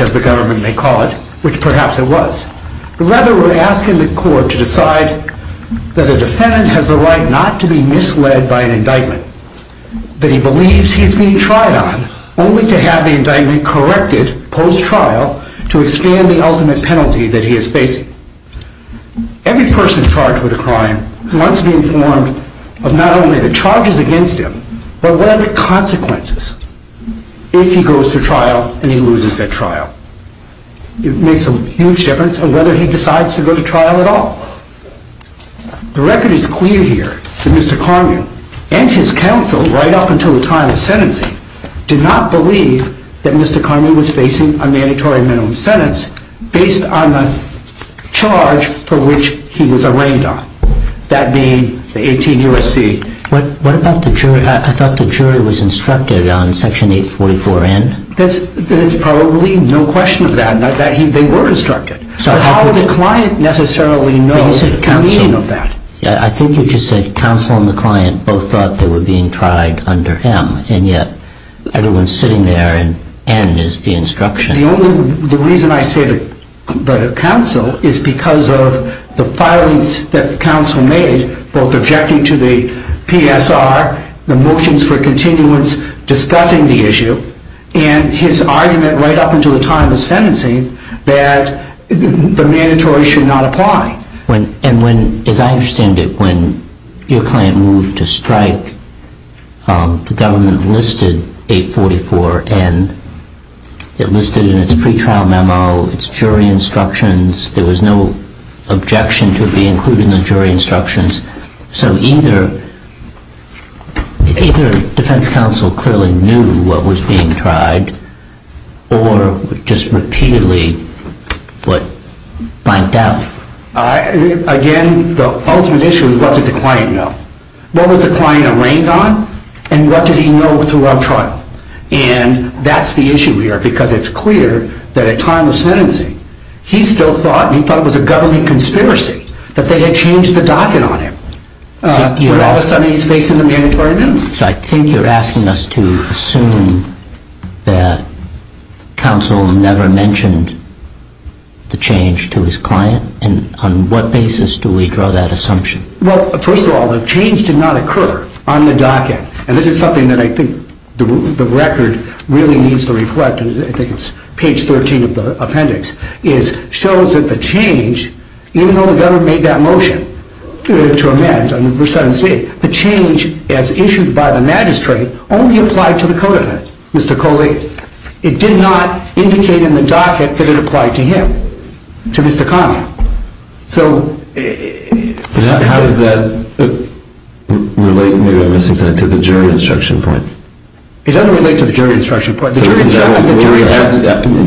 of the government may call it, which perhaps it was, but rather we are asking the court to decide that a defendant has the right not to be misled by an indictment that he believes he is being tried on, only to have the indictment corrected post-trial to expand the ultimate penalty that he is facing. Every person charged with a crime must be informed of not only the charges against him, but what are the consequences if he goes to trial and he loses at trial. It makes a huge difference on whether he decides to go to trial at all. The record is clear here that Mr. Karmue and his counsel, right up until the time of sentencing, did not believe that Mr. Karmue was facing a mandatory minimum sentence based on the charge for which he was arraigned on, that being the 18 U.S.C. What about the jury? I thought the jury was instructed on Section 844N? There is probably no question of that. They were instructed. But how would a client necessarily know the meaning of that? I think you just said counsel and the client both thought they were being tried under him, and yet everyone is sitting there and N is the instruction. The reason I say the counsel is because of the filings that the counsel made, both objecting to the PSR, the motions for continuance discussing the issue, and his argument right up until the time of sentencing that the mandatory should not apply. And when, as I understand it, when your client moved to strike, the government listed 844N, it listed it in its pretrial memo, its jury instructions, there was no objection to it being included in the jury instructions, so either defense counsel clearly knew what was being tried or just repeatedly blanked out. Again, the ultimate issue is what did the client know? What was the client arraigned on and what did he know throughout trial? And that's the issue here because it's clear that at time of sentencing he still thought and he thought it was a government conspiracy that they had changed the docket on him. But all of a sudden he's facing the mandatory notice. I think you're asking us to assume that counsel never mentioned the change to his client. And on what basis do we draw that assumption? Well, first of all, the change did not occur on the docket. And this is something that I think the record really needs to reflect. I think it's page 13 of the appendix. It shows that the change, even though the government made that motion to amend, the change as issued by the magistrate only applied to the co-defendant, Mr. Coley. It did not indicate in the docket that it applied to him, to Mr. Conley. So... How does that relate, maybe I'm missing something, to the jury instruction point? It doesn't relate to the jury instruction point. The jury instruction...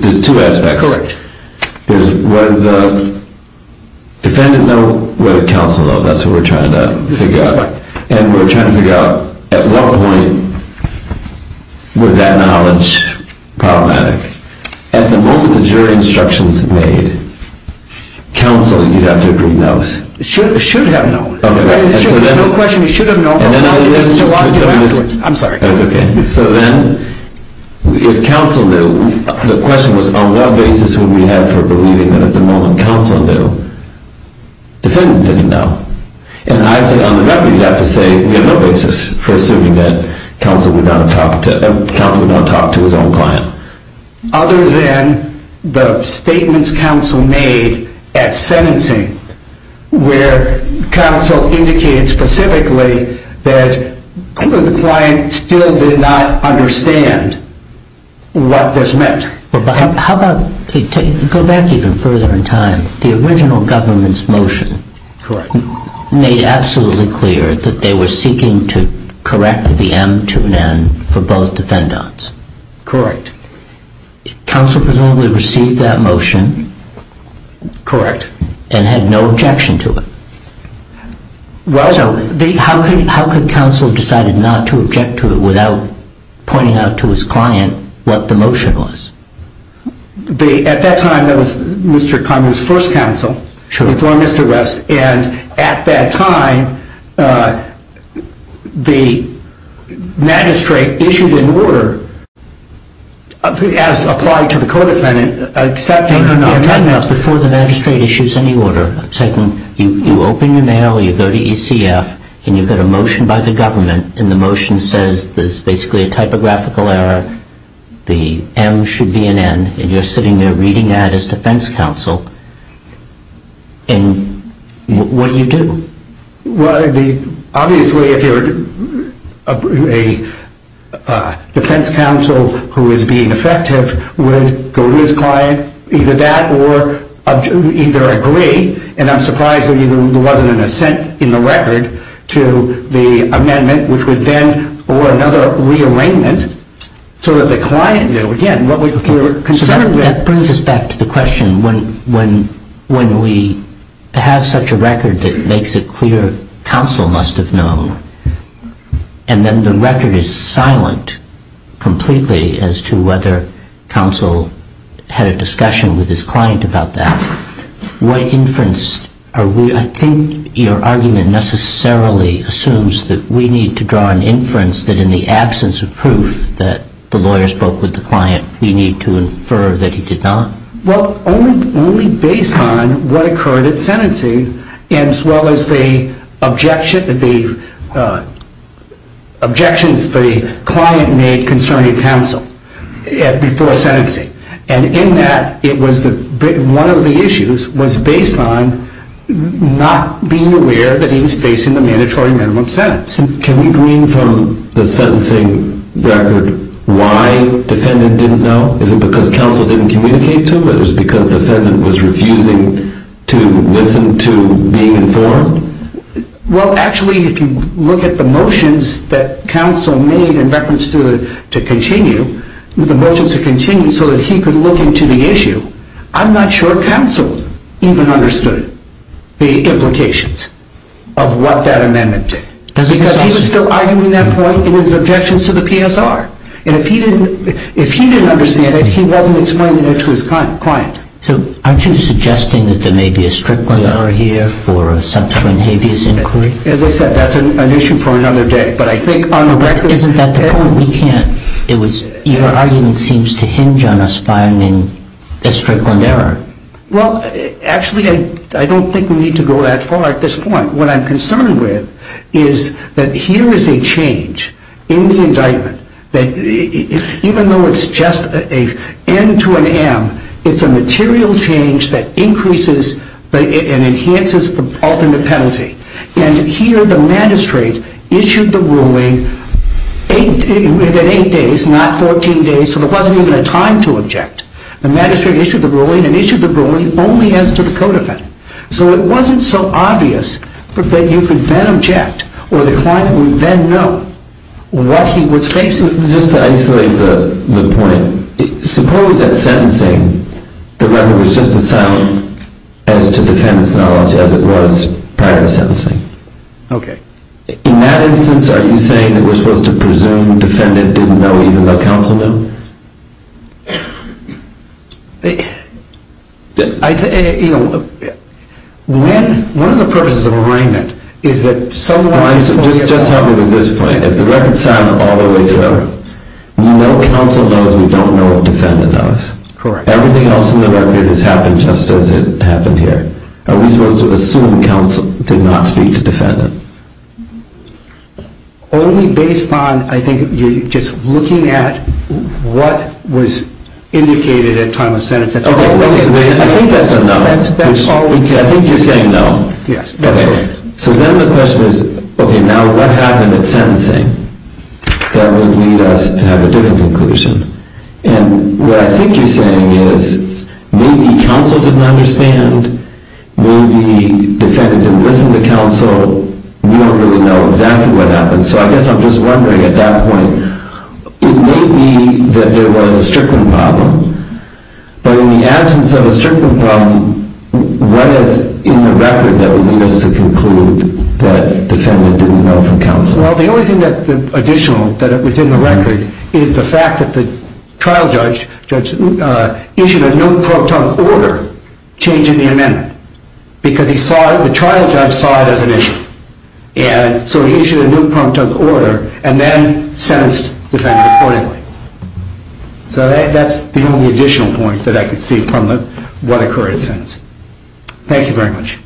There's two aspects. Correct. There's whether the defendant know what counsel know. That's what we're trying to figure out. And we're trying to figure out at what point was that knowledge problematic? At the moment the jury instructions made, counsel, you'd have to agree, knows. Should have known. There's no question he should have known. I'm sorry. So then, if counsel knew, the question was on what basis would we have for believing that at the moment counsel knew. Defendant didn't know. And I think on the record you'd have to say we have no basis for assuming that counsel would not talk to his own client. Other than the statements counsel made at sentencing, where counsel indicated specifically that the client still did not understand what this meant. How about... Go back even further in time. The original government's motion... Correct. ...made absolutely clear that they were seeking to correct the M to an N for both defendants. Correct. Counsel presumably received that motion... Correct. ...and had no objection to it. Well... So how could counsel have decided not to object to it without pointing out to his client what the motion was? At that time that was Mr. Connery's first counsel before Mr. West. And at that time the magistrate issued an order as applied to the co-defendant accepting or not accepting... Before the magistrate issues any order, you open your mail, you go to ECF, and you get a motion by the government, and the motion says there's basically a typographical error, the M should be an N, and you're sitting there reading that as defense counsel. And what do you do? Well, obviously if you're a defense counsel who is being effective, would go to his client. Either that or either agree, and I'm surprised there wasn't an assent in the record to the amendment, which would then order another rearrangement so that the client, again, what we're concerned with... When we have such a record that makes it clear counsel must have known, and then the record is silent completely as to whether counsel had a discussion with his client about that, what inference are we... I think your argument necessarily assumes that we need to draw an inference that in the absence of proof that the lawyer spoke with the client, we need to infer that he did not. Well, only based on what occurred at sentencing, as well as the objections the client made concerning counsel before sentencing. And in that, one of the issues was based on not being aware that he was facing the mandatory minimum sentence. Can we glean from the sentencing record why defendant didn't know? Is it because counsel didn't communicate to him? Or it was because defendant was refusing to listen to being informed? Well, actually, if you look at the motions that counsel made in reference to continue, the motions to continue so that he could look into the issue, I'm not sure counsel even understood the implications of what that amendment did. Because he was still arguing that point in his objections to the PSR. And if he didn't understand it, he wasn't explaining it to his client. So aren't you suggesting that there may be a Strickland error here for a subsequent habeas inquiry? As I said, that's an issue for another day. But I think on the record... Isn't that the point? We can't... Your argument seems to hinge on us finding a Strickland error. Well, actually, I don't think we need to go that far at this point. What I'm concerned with is that here is a change in the indictment that even though it's just an N to an M, it's a material change that increases and enhances the alternate penalty. And here the magistrate issued the ruling within 8 days, not 14 days, so there wasn't even a time to object. The magistrate issued the ruling and issued the ruling only as to the code of it. So it wasn't so obvious that you could then object or the client would then know what he was facing. Just to isolate the point, suppose that sentencing, the record was just as silent as to defendant's knowledge as it was prior to sentencing. Okay. In that instance, are you saying that we're supposed to presume the defendant didn't know even though counsel knew? One of the purposes of arraignment is that someone... Just help me with this point. If the record is silent all the way through, we know counsel knows, we don't know if defendant knows. Correct. Everything else in the record has happened just as it happened here. Are we supposed to assume counsel did not speak to defendant? Only based on, I think, just looking at, what was indicated at time of sentence... Okay, wait a minute. I think that's a no. I think you're saying no. Yes. Okay. So then the question is, okay, now what happened at sentencing that would lead us to have a different conclusion? And what I think you're saying is maybe counsel didn't understand, maybe defendant didn't listen to counsel, we don't really know exactly what happened. So I guess I'm just wondering at that point, it may be that there was a strickling problem, but in the absence of a strickling problem, what is in the record that would lead us to conclude that defendant didn't know from counsel? Well, the only thing that's additional that's in the record is the fact that the trial judge issued a no prompt tongue order changing the amendment, because the trial judge saw it as an issue. And so he issued a no prompt tongue order and then sentenced the defendant accordingly. So that's the only additional point that I could see from what occurred at sentence. Thank you very much.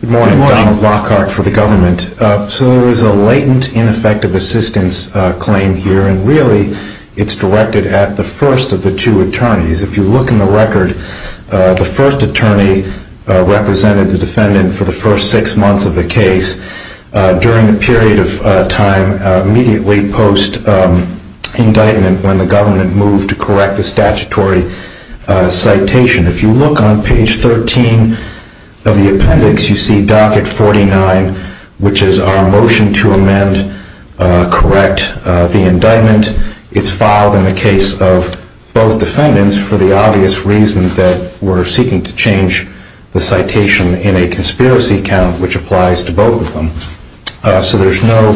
Good morning. Donald Lockhart for the government. So there was a latent ineffective assistance claim here, and really it's directed at the first of the two attorneys. If you look in the record, the first attorney represented the defendant for the first six months of the case. During the period of time immediately post indictment when the government moved to correct the statutory citation. If you look on page 13 of the appendix, you see docket 49, which is our motion to amend, correct the indictment. It's filed in the case of both defendants for the obvious reason that we're seeking to change the citation in a conspiracy count, which applies to both of them. So there's no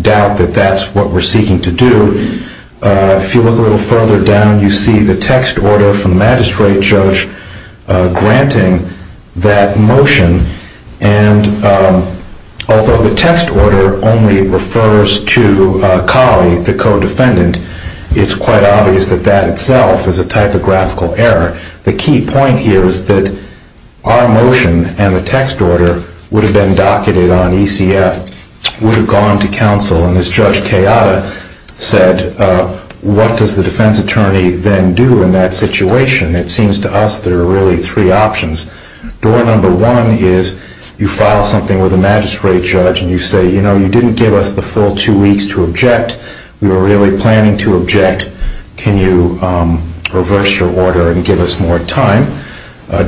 doubt that that's what we're seeking to do. If you look a little further down, you see the text order from the magistrate judge granting that motion. And although the text order only refers to Colley, the co-defendant, it's quite obvious that that itself is a typographical error. The key point here is that our motion and the text order would have been docketed on ECF, would have gone to counsel, and as Judge Kayada said, what does the defense attorney then do in that situation? It seems to us there are really three options. Door number one is you file something with the magistrate judge and you say, you know, you didn't give us the full two weeks to object. We were really planning to object. Can you reverse your order and give us more time?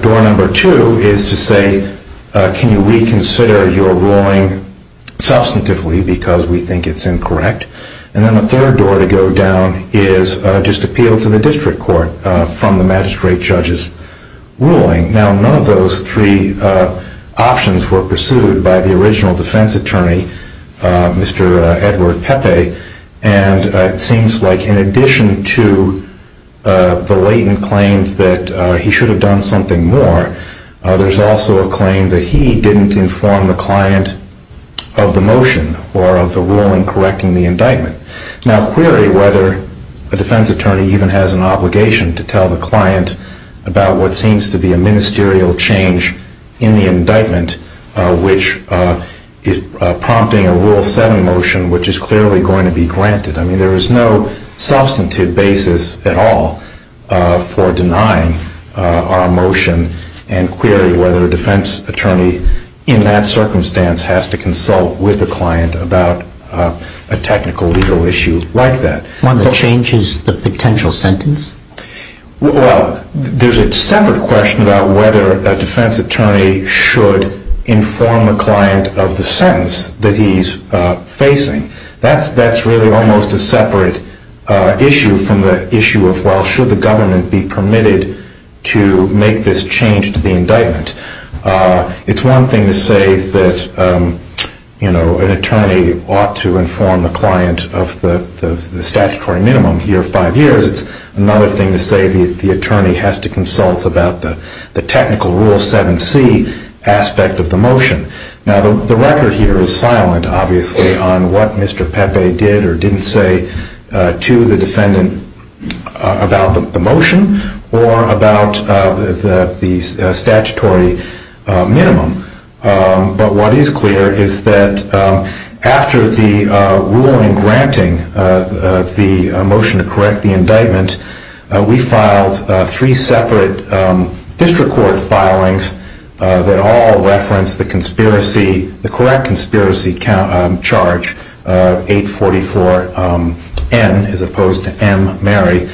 Door number two is to say, can you reconsider your ruling substantively because we think it's incorrect? And then the third door to go down is just appeal to the district court from the magistrate judge's ruling. Now, none of those three options were pursued by the original defense attorney, Mr. Edward Pepe, and it seems like in addition to the latent claim that he should have done something more, there's also a claim that he didn't inform the client of the motion or of the ruling correcting the indictment. Now, query whether a defense attorney even has an obligation to tell the client about what seems to be a ministerial change in the indictment which is prompting a Rule 7 motion which is clearly going to be granted. I mean, there is no substantive basis at all for denying our motion and query whether a defense attorney in that circumstance has to consult with the client about a technical legal issue like that. One that changes the potential sentence? Well, there's a separate question about whether a defense attorney should inform the client of the sentence that he's facing. That's really almost a separate issue from the issue of, well, should the government be permitted to make this change to the indictment? It's one thing to say that, you know, an attorney ought to inform the client of the statutory minimum, a year or five years. It's another thing to say the attorney has to consult about the technical Rule 7c aspect of the motion. Now, the record here is silent, obviously, on what Mr. Pepe did or didn't say to the defendant about the motion or about the statutory minimum. But what is clear is that after the ruling granting the motion to correct the indictment, we filed three separate district court filings that all referenced the conspiracy, the correct conspiracy charge, 844-N as opposed to M, Mary.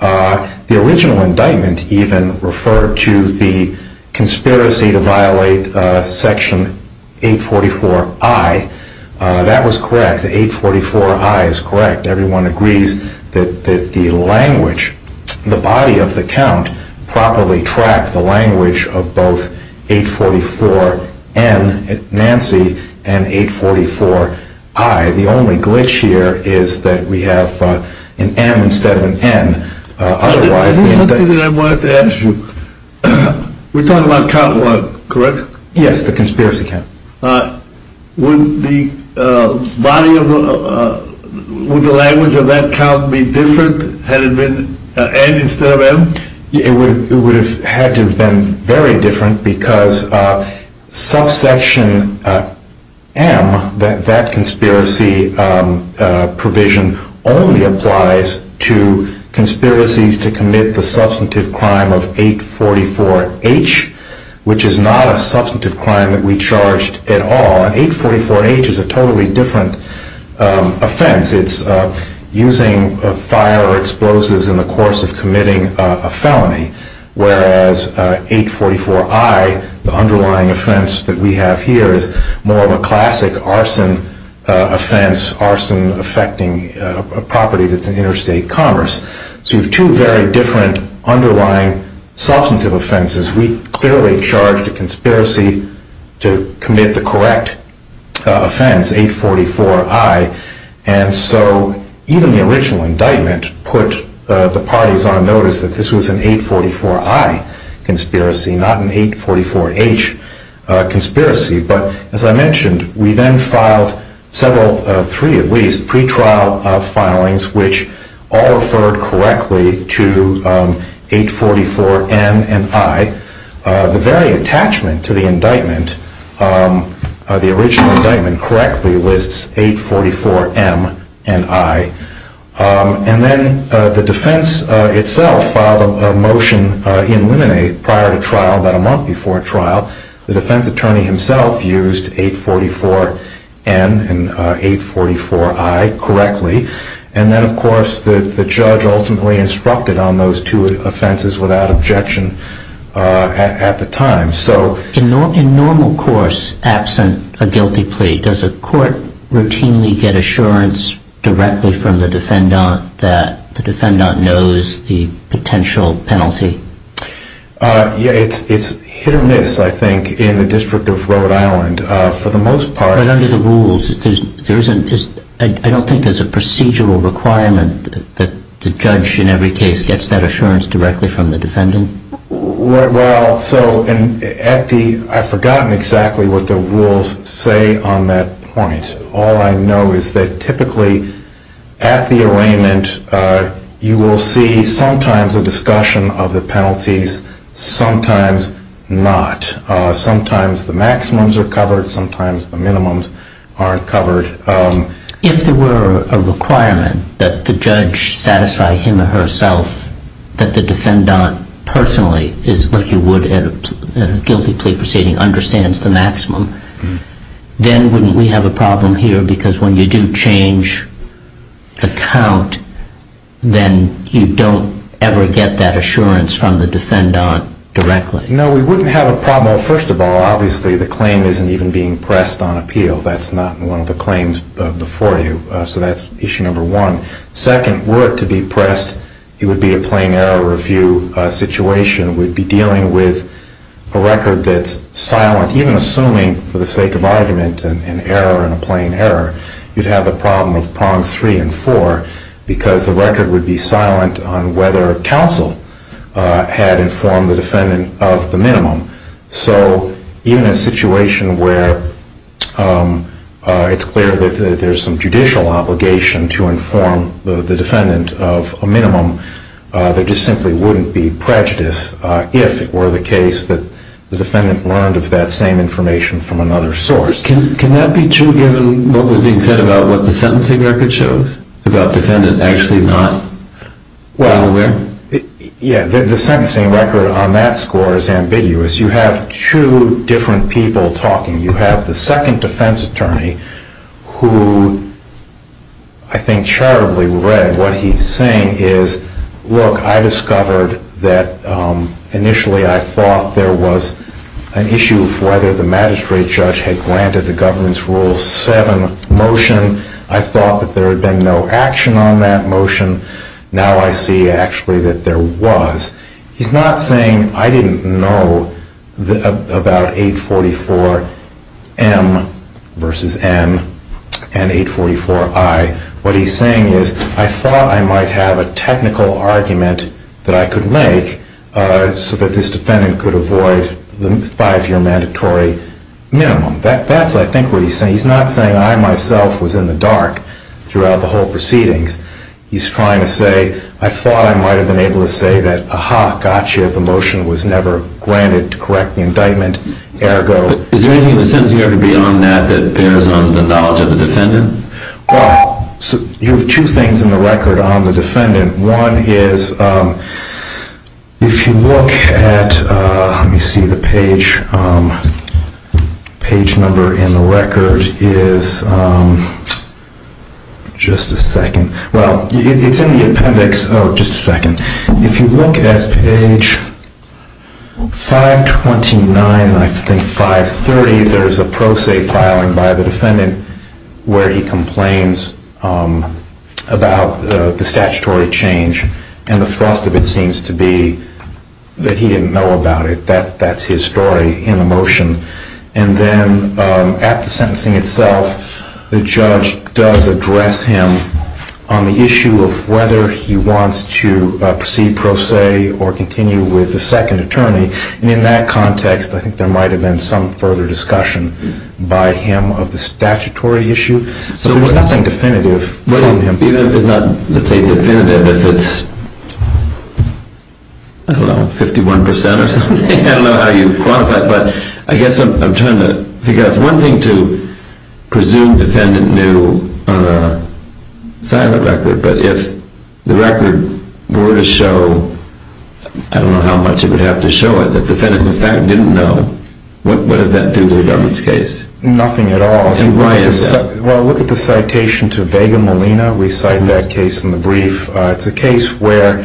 The original indictment even referred to the conspiracy to violate Section 844-I. That was correct. The 844-I is correct. Everyone agrees that the language, the body of the count, properly tracked the language of both 844-N, Nancy, and 844-I. The only glitch here is that we have an M instead of an N. Otherwise, the indictment... Is this something that I wanted to ask you? We're talking about count one, correct? Yes, the conspiracy count. Would the body of the... Would the language of that count be different had it been N instead of M? It would have had to have been very different because subsection M, that conspiracy provision, only applies to conspiracies to commit the substantive crime of 844-H, which is not a substantive crime that we charged at all. And 844-H is a totally different offense. It's using fire or explosives in the course of committing a felony, whereas 844-I, the underlying offense that we have here, is more of a classic arson offense, arson affecting a property that's in interstate commerce. So you have two very different underlying substantive offenses. We clearly charged a conspiracy to commit the correct offense, 844-I. And so even the original indictment put the parties on notice that this was an 844-I conspiracy, not an 844-H conspiracy. But as I mentioned, we then filed several, three at least, pretrial filings, which all referred correctly to 844-N and I. The very attachment to the indictment, the original indictment correctly lists 844-M and I. And then the defense itself filed a motion in limine prior to trial about a month before trial. The defense attorney himself used 844-N and 844-I correctly. And then, of course, the judge ultimately instructed on those two offenses without objection at the time. In normal course, absent a guilty plea, does a court routinely get assurance directly from the defendant that the defendant knows the potential penalty? Yeah, it's hit or miss, I think, in the District of Rhode Island for the most part. But under the rules, I don't think there's a procedural requirement that the judge in every case gets that assurance directly from the defendant. Well, so at the... I've forgotten exactly what the rules say on that point. All I know is that typically at the arraignment, you will see sometimes a discussion of the penalties, sometimes not. Sometimes the maximums are covered, sometimes the minimums aren't covered. If there were a requirement that the judge satisfy him or herself that the defendant personally, as you would at a guilty plea proceeding, understands the maximum, then wouldn't we have a problem here? Because when you do change the count, then you don't ever get that assurance from the defendant directly. No, we wouldn't have a problem. First of all, obviously, the claim isn't even being pressed on appeal. That's not one of the claims before you. So that's issue number one. Second, were it to be pressed, it would be a plain error review situation. We'd be dealing with a record that's silent. Even assuming, for the sake of argument, an error and a plain error, you'd have the problem of prongs three and four because the record would be silent on whether counsel had informed the defendant of the minimum. So even a situation where it's clear that there's some judicial obligation to inform the defendant of a minimum, there just simply wouldn't be prejudice if it were the case that the defendant learned of that same information from another source. Can that be true given what was being said about what the sentencing record shows, about defendant actually not well aware? Yeah, the sentencing record on that score is ambiguous. You have two different people talking. You have the second defense attorney who I think charitably read what he's saying is, look, I discovered that initially I thought there was an issue of whether the magistrate judge had granted the governance rule seven motion. I thought that there had been no action on that motion. Now I see actually that there was. He's not saying I didn't know about 844M versus M and 844I. What he's saying is I thought I might have a technical argument that I could make so that this defendant could avoid the five-year mandatory minimum. That's, I think, what he's saying. He's not saying I myself was in the dark throughout the whole proceedings. He's trying to say I thought I might have been able to say that, aha, gotcha, the motion was never granted to correct the indictment, ergo. Is there anything in the sentencing record beyond that that bears on the knowledge of the defendant? Well, you have two things in the record on the defendant. One is if you look at, let me see, the page number in the record is, just a second. Well, it's in the appendix. Oh, just a second. If you look at page 529, I think 530, there is a pro se filing by the defendant where he complains about the statutory change. And the thrust of it seems to be that he didn't know about it. That's his story in the motion. And then at the sentencing itself, the judge does address him on the issue of whether he wants to proceed pro se or continue with the second attorney. And in that context, I think there might have been some further discussion by him of the statutory issue. So there's nothing definitive from him. Even if it's not, let's say, definitive, if it's, I don't know, 51% or something. I don't know how you quantify it. But I guess I'm trying to figure out. It's one thing to presume defendant knew on a silent record. But if the record were to show, I don't know how much it would have to show it, that defendant, in fact, didn't know, what does that do to the government's case? Nothing at all. And why is that? Well, look at the citation to Vega Molina. We cite that case in the brief. It's a case where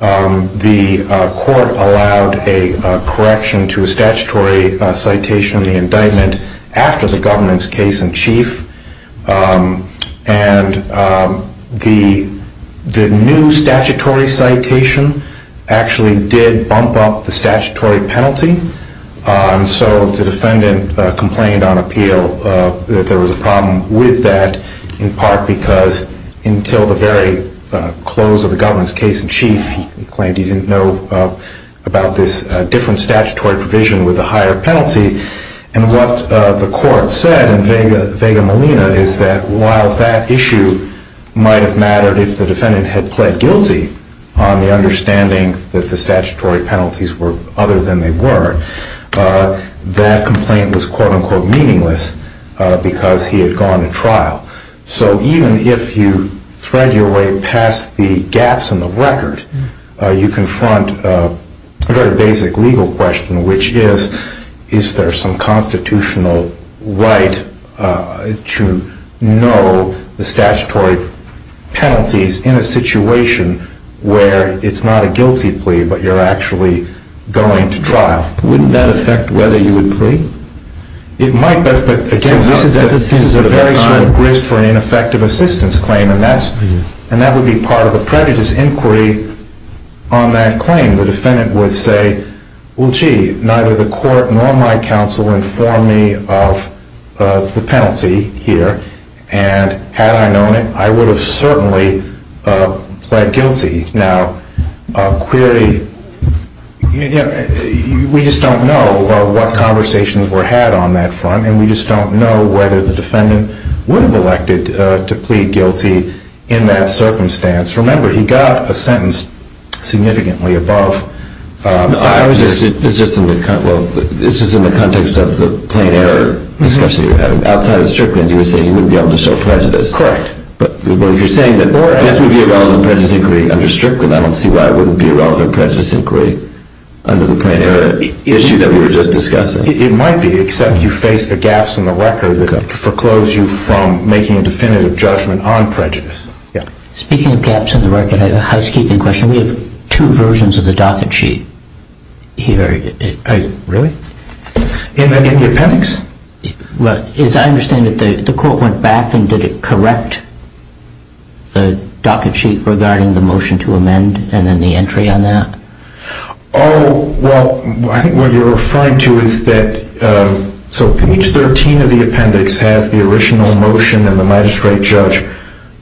the court allowed a correction to a statutory citation of the indictment after the government's case-in-chief. And the new statutory citation actually did bump up the statutory penalty. And so the defendant complained on appeal that there was a problem with that, in part because until the very close of the government's case-in-chief, he claimed he didn't know about this different statutory provision with a higher penalty. And what the court said in Vega Molina is that while that issue might have mattered if the defendant had pled guilty on the understanding that the statutory penalties were other than they were, that complaint was quote, unquote, meaningless because he had gone to trial. So even if you thread your way past the gaps in the record, you confront a very basic legal question, which is, is there some constitutional right to know the statutory penalties in a situation where it's not a guilty plea, but you're actually going to trial? Wouldn't that affect whether you would plea? It might. But again, this is a very sort of grist for an ineffective assistance claim. And that would be part of a prejudice inquiry on that claim. The defendant would say, well, gee, neither the court nor my counsel informed me of the penalty here. And had I known it, I would have certainly pled guilty. Now, a query, we just don't know what conversations were had on that front. And we just don't know whether the defendant would have elected to plead guilty in that circumstance. Remember, he got a sentence significantly above. It's just in the context of the plain error discussion you're having. Outside of Strickland, you were saying he wouldn't be able to show prejudice. Correct. But if you're saying that this would be a relevant prejudice inquiry under Strickland, I don't see why it wouldn't be a relevant prejudice inquiry under the plain error issue that we were just discussing. It might be, except you face the gaps in the record that foreclose you from making a definitive judgment on prejudice. Speaking of gaps in the record, I have a housekeeping question. We have two versions of the docket sheet here. Really? In the appendix? Well, as I understand it, the court went back and did it correct the docket sheet regarding the motion to amend and then the entry on that? Oh, well, I think what you're referring to is that page 13 of the appendix has the original motion and the magistrate judge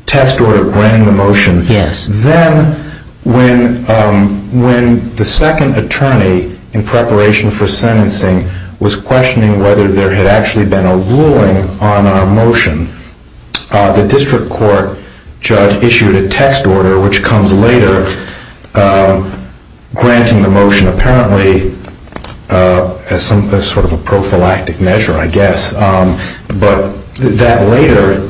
test order granting the motion. Yes. Then when the second attorney, in preparation for sentencing, was questioning whether there had actually been a ruling on our motion, the district court judge issued a text order, which comes later, granting the motion, apparently as sort of a prophylactic measure, I guess. But that later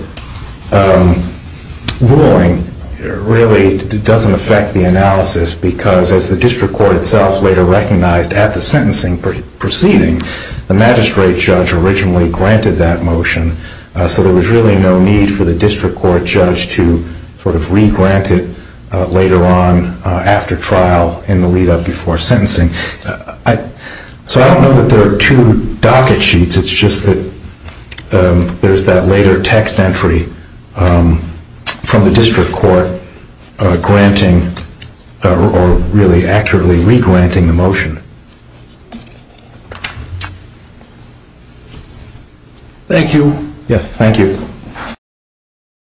ruling really doesn't affect the analysis because, as the district court itself later recognized at the sentencing proceeding, the magistrate judge originally granted that motion. So there was really no need for the district court judge to sort of re-grant it later on after trial in the lead up before sentencing. So I don't know that there are two docket sheets. It's just that there's that later text entry from the district court granting or really accurately re-granting the motion. Thank you. Yes, thank you.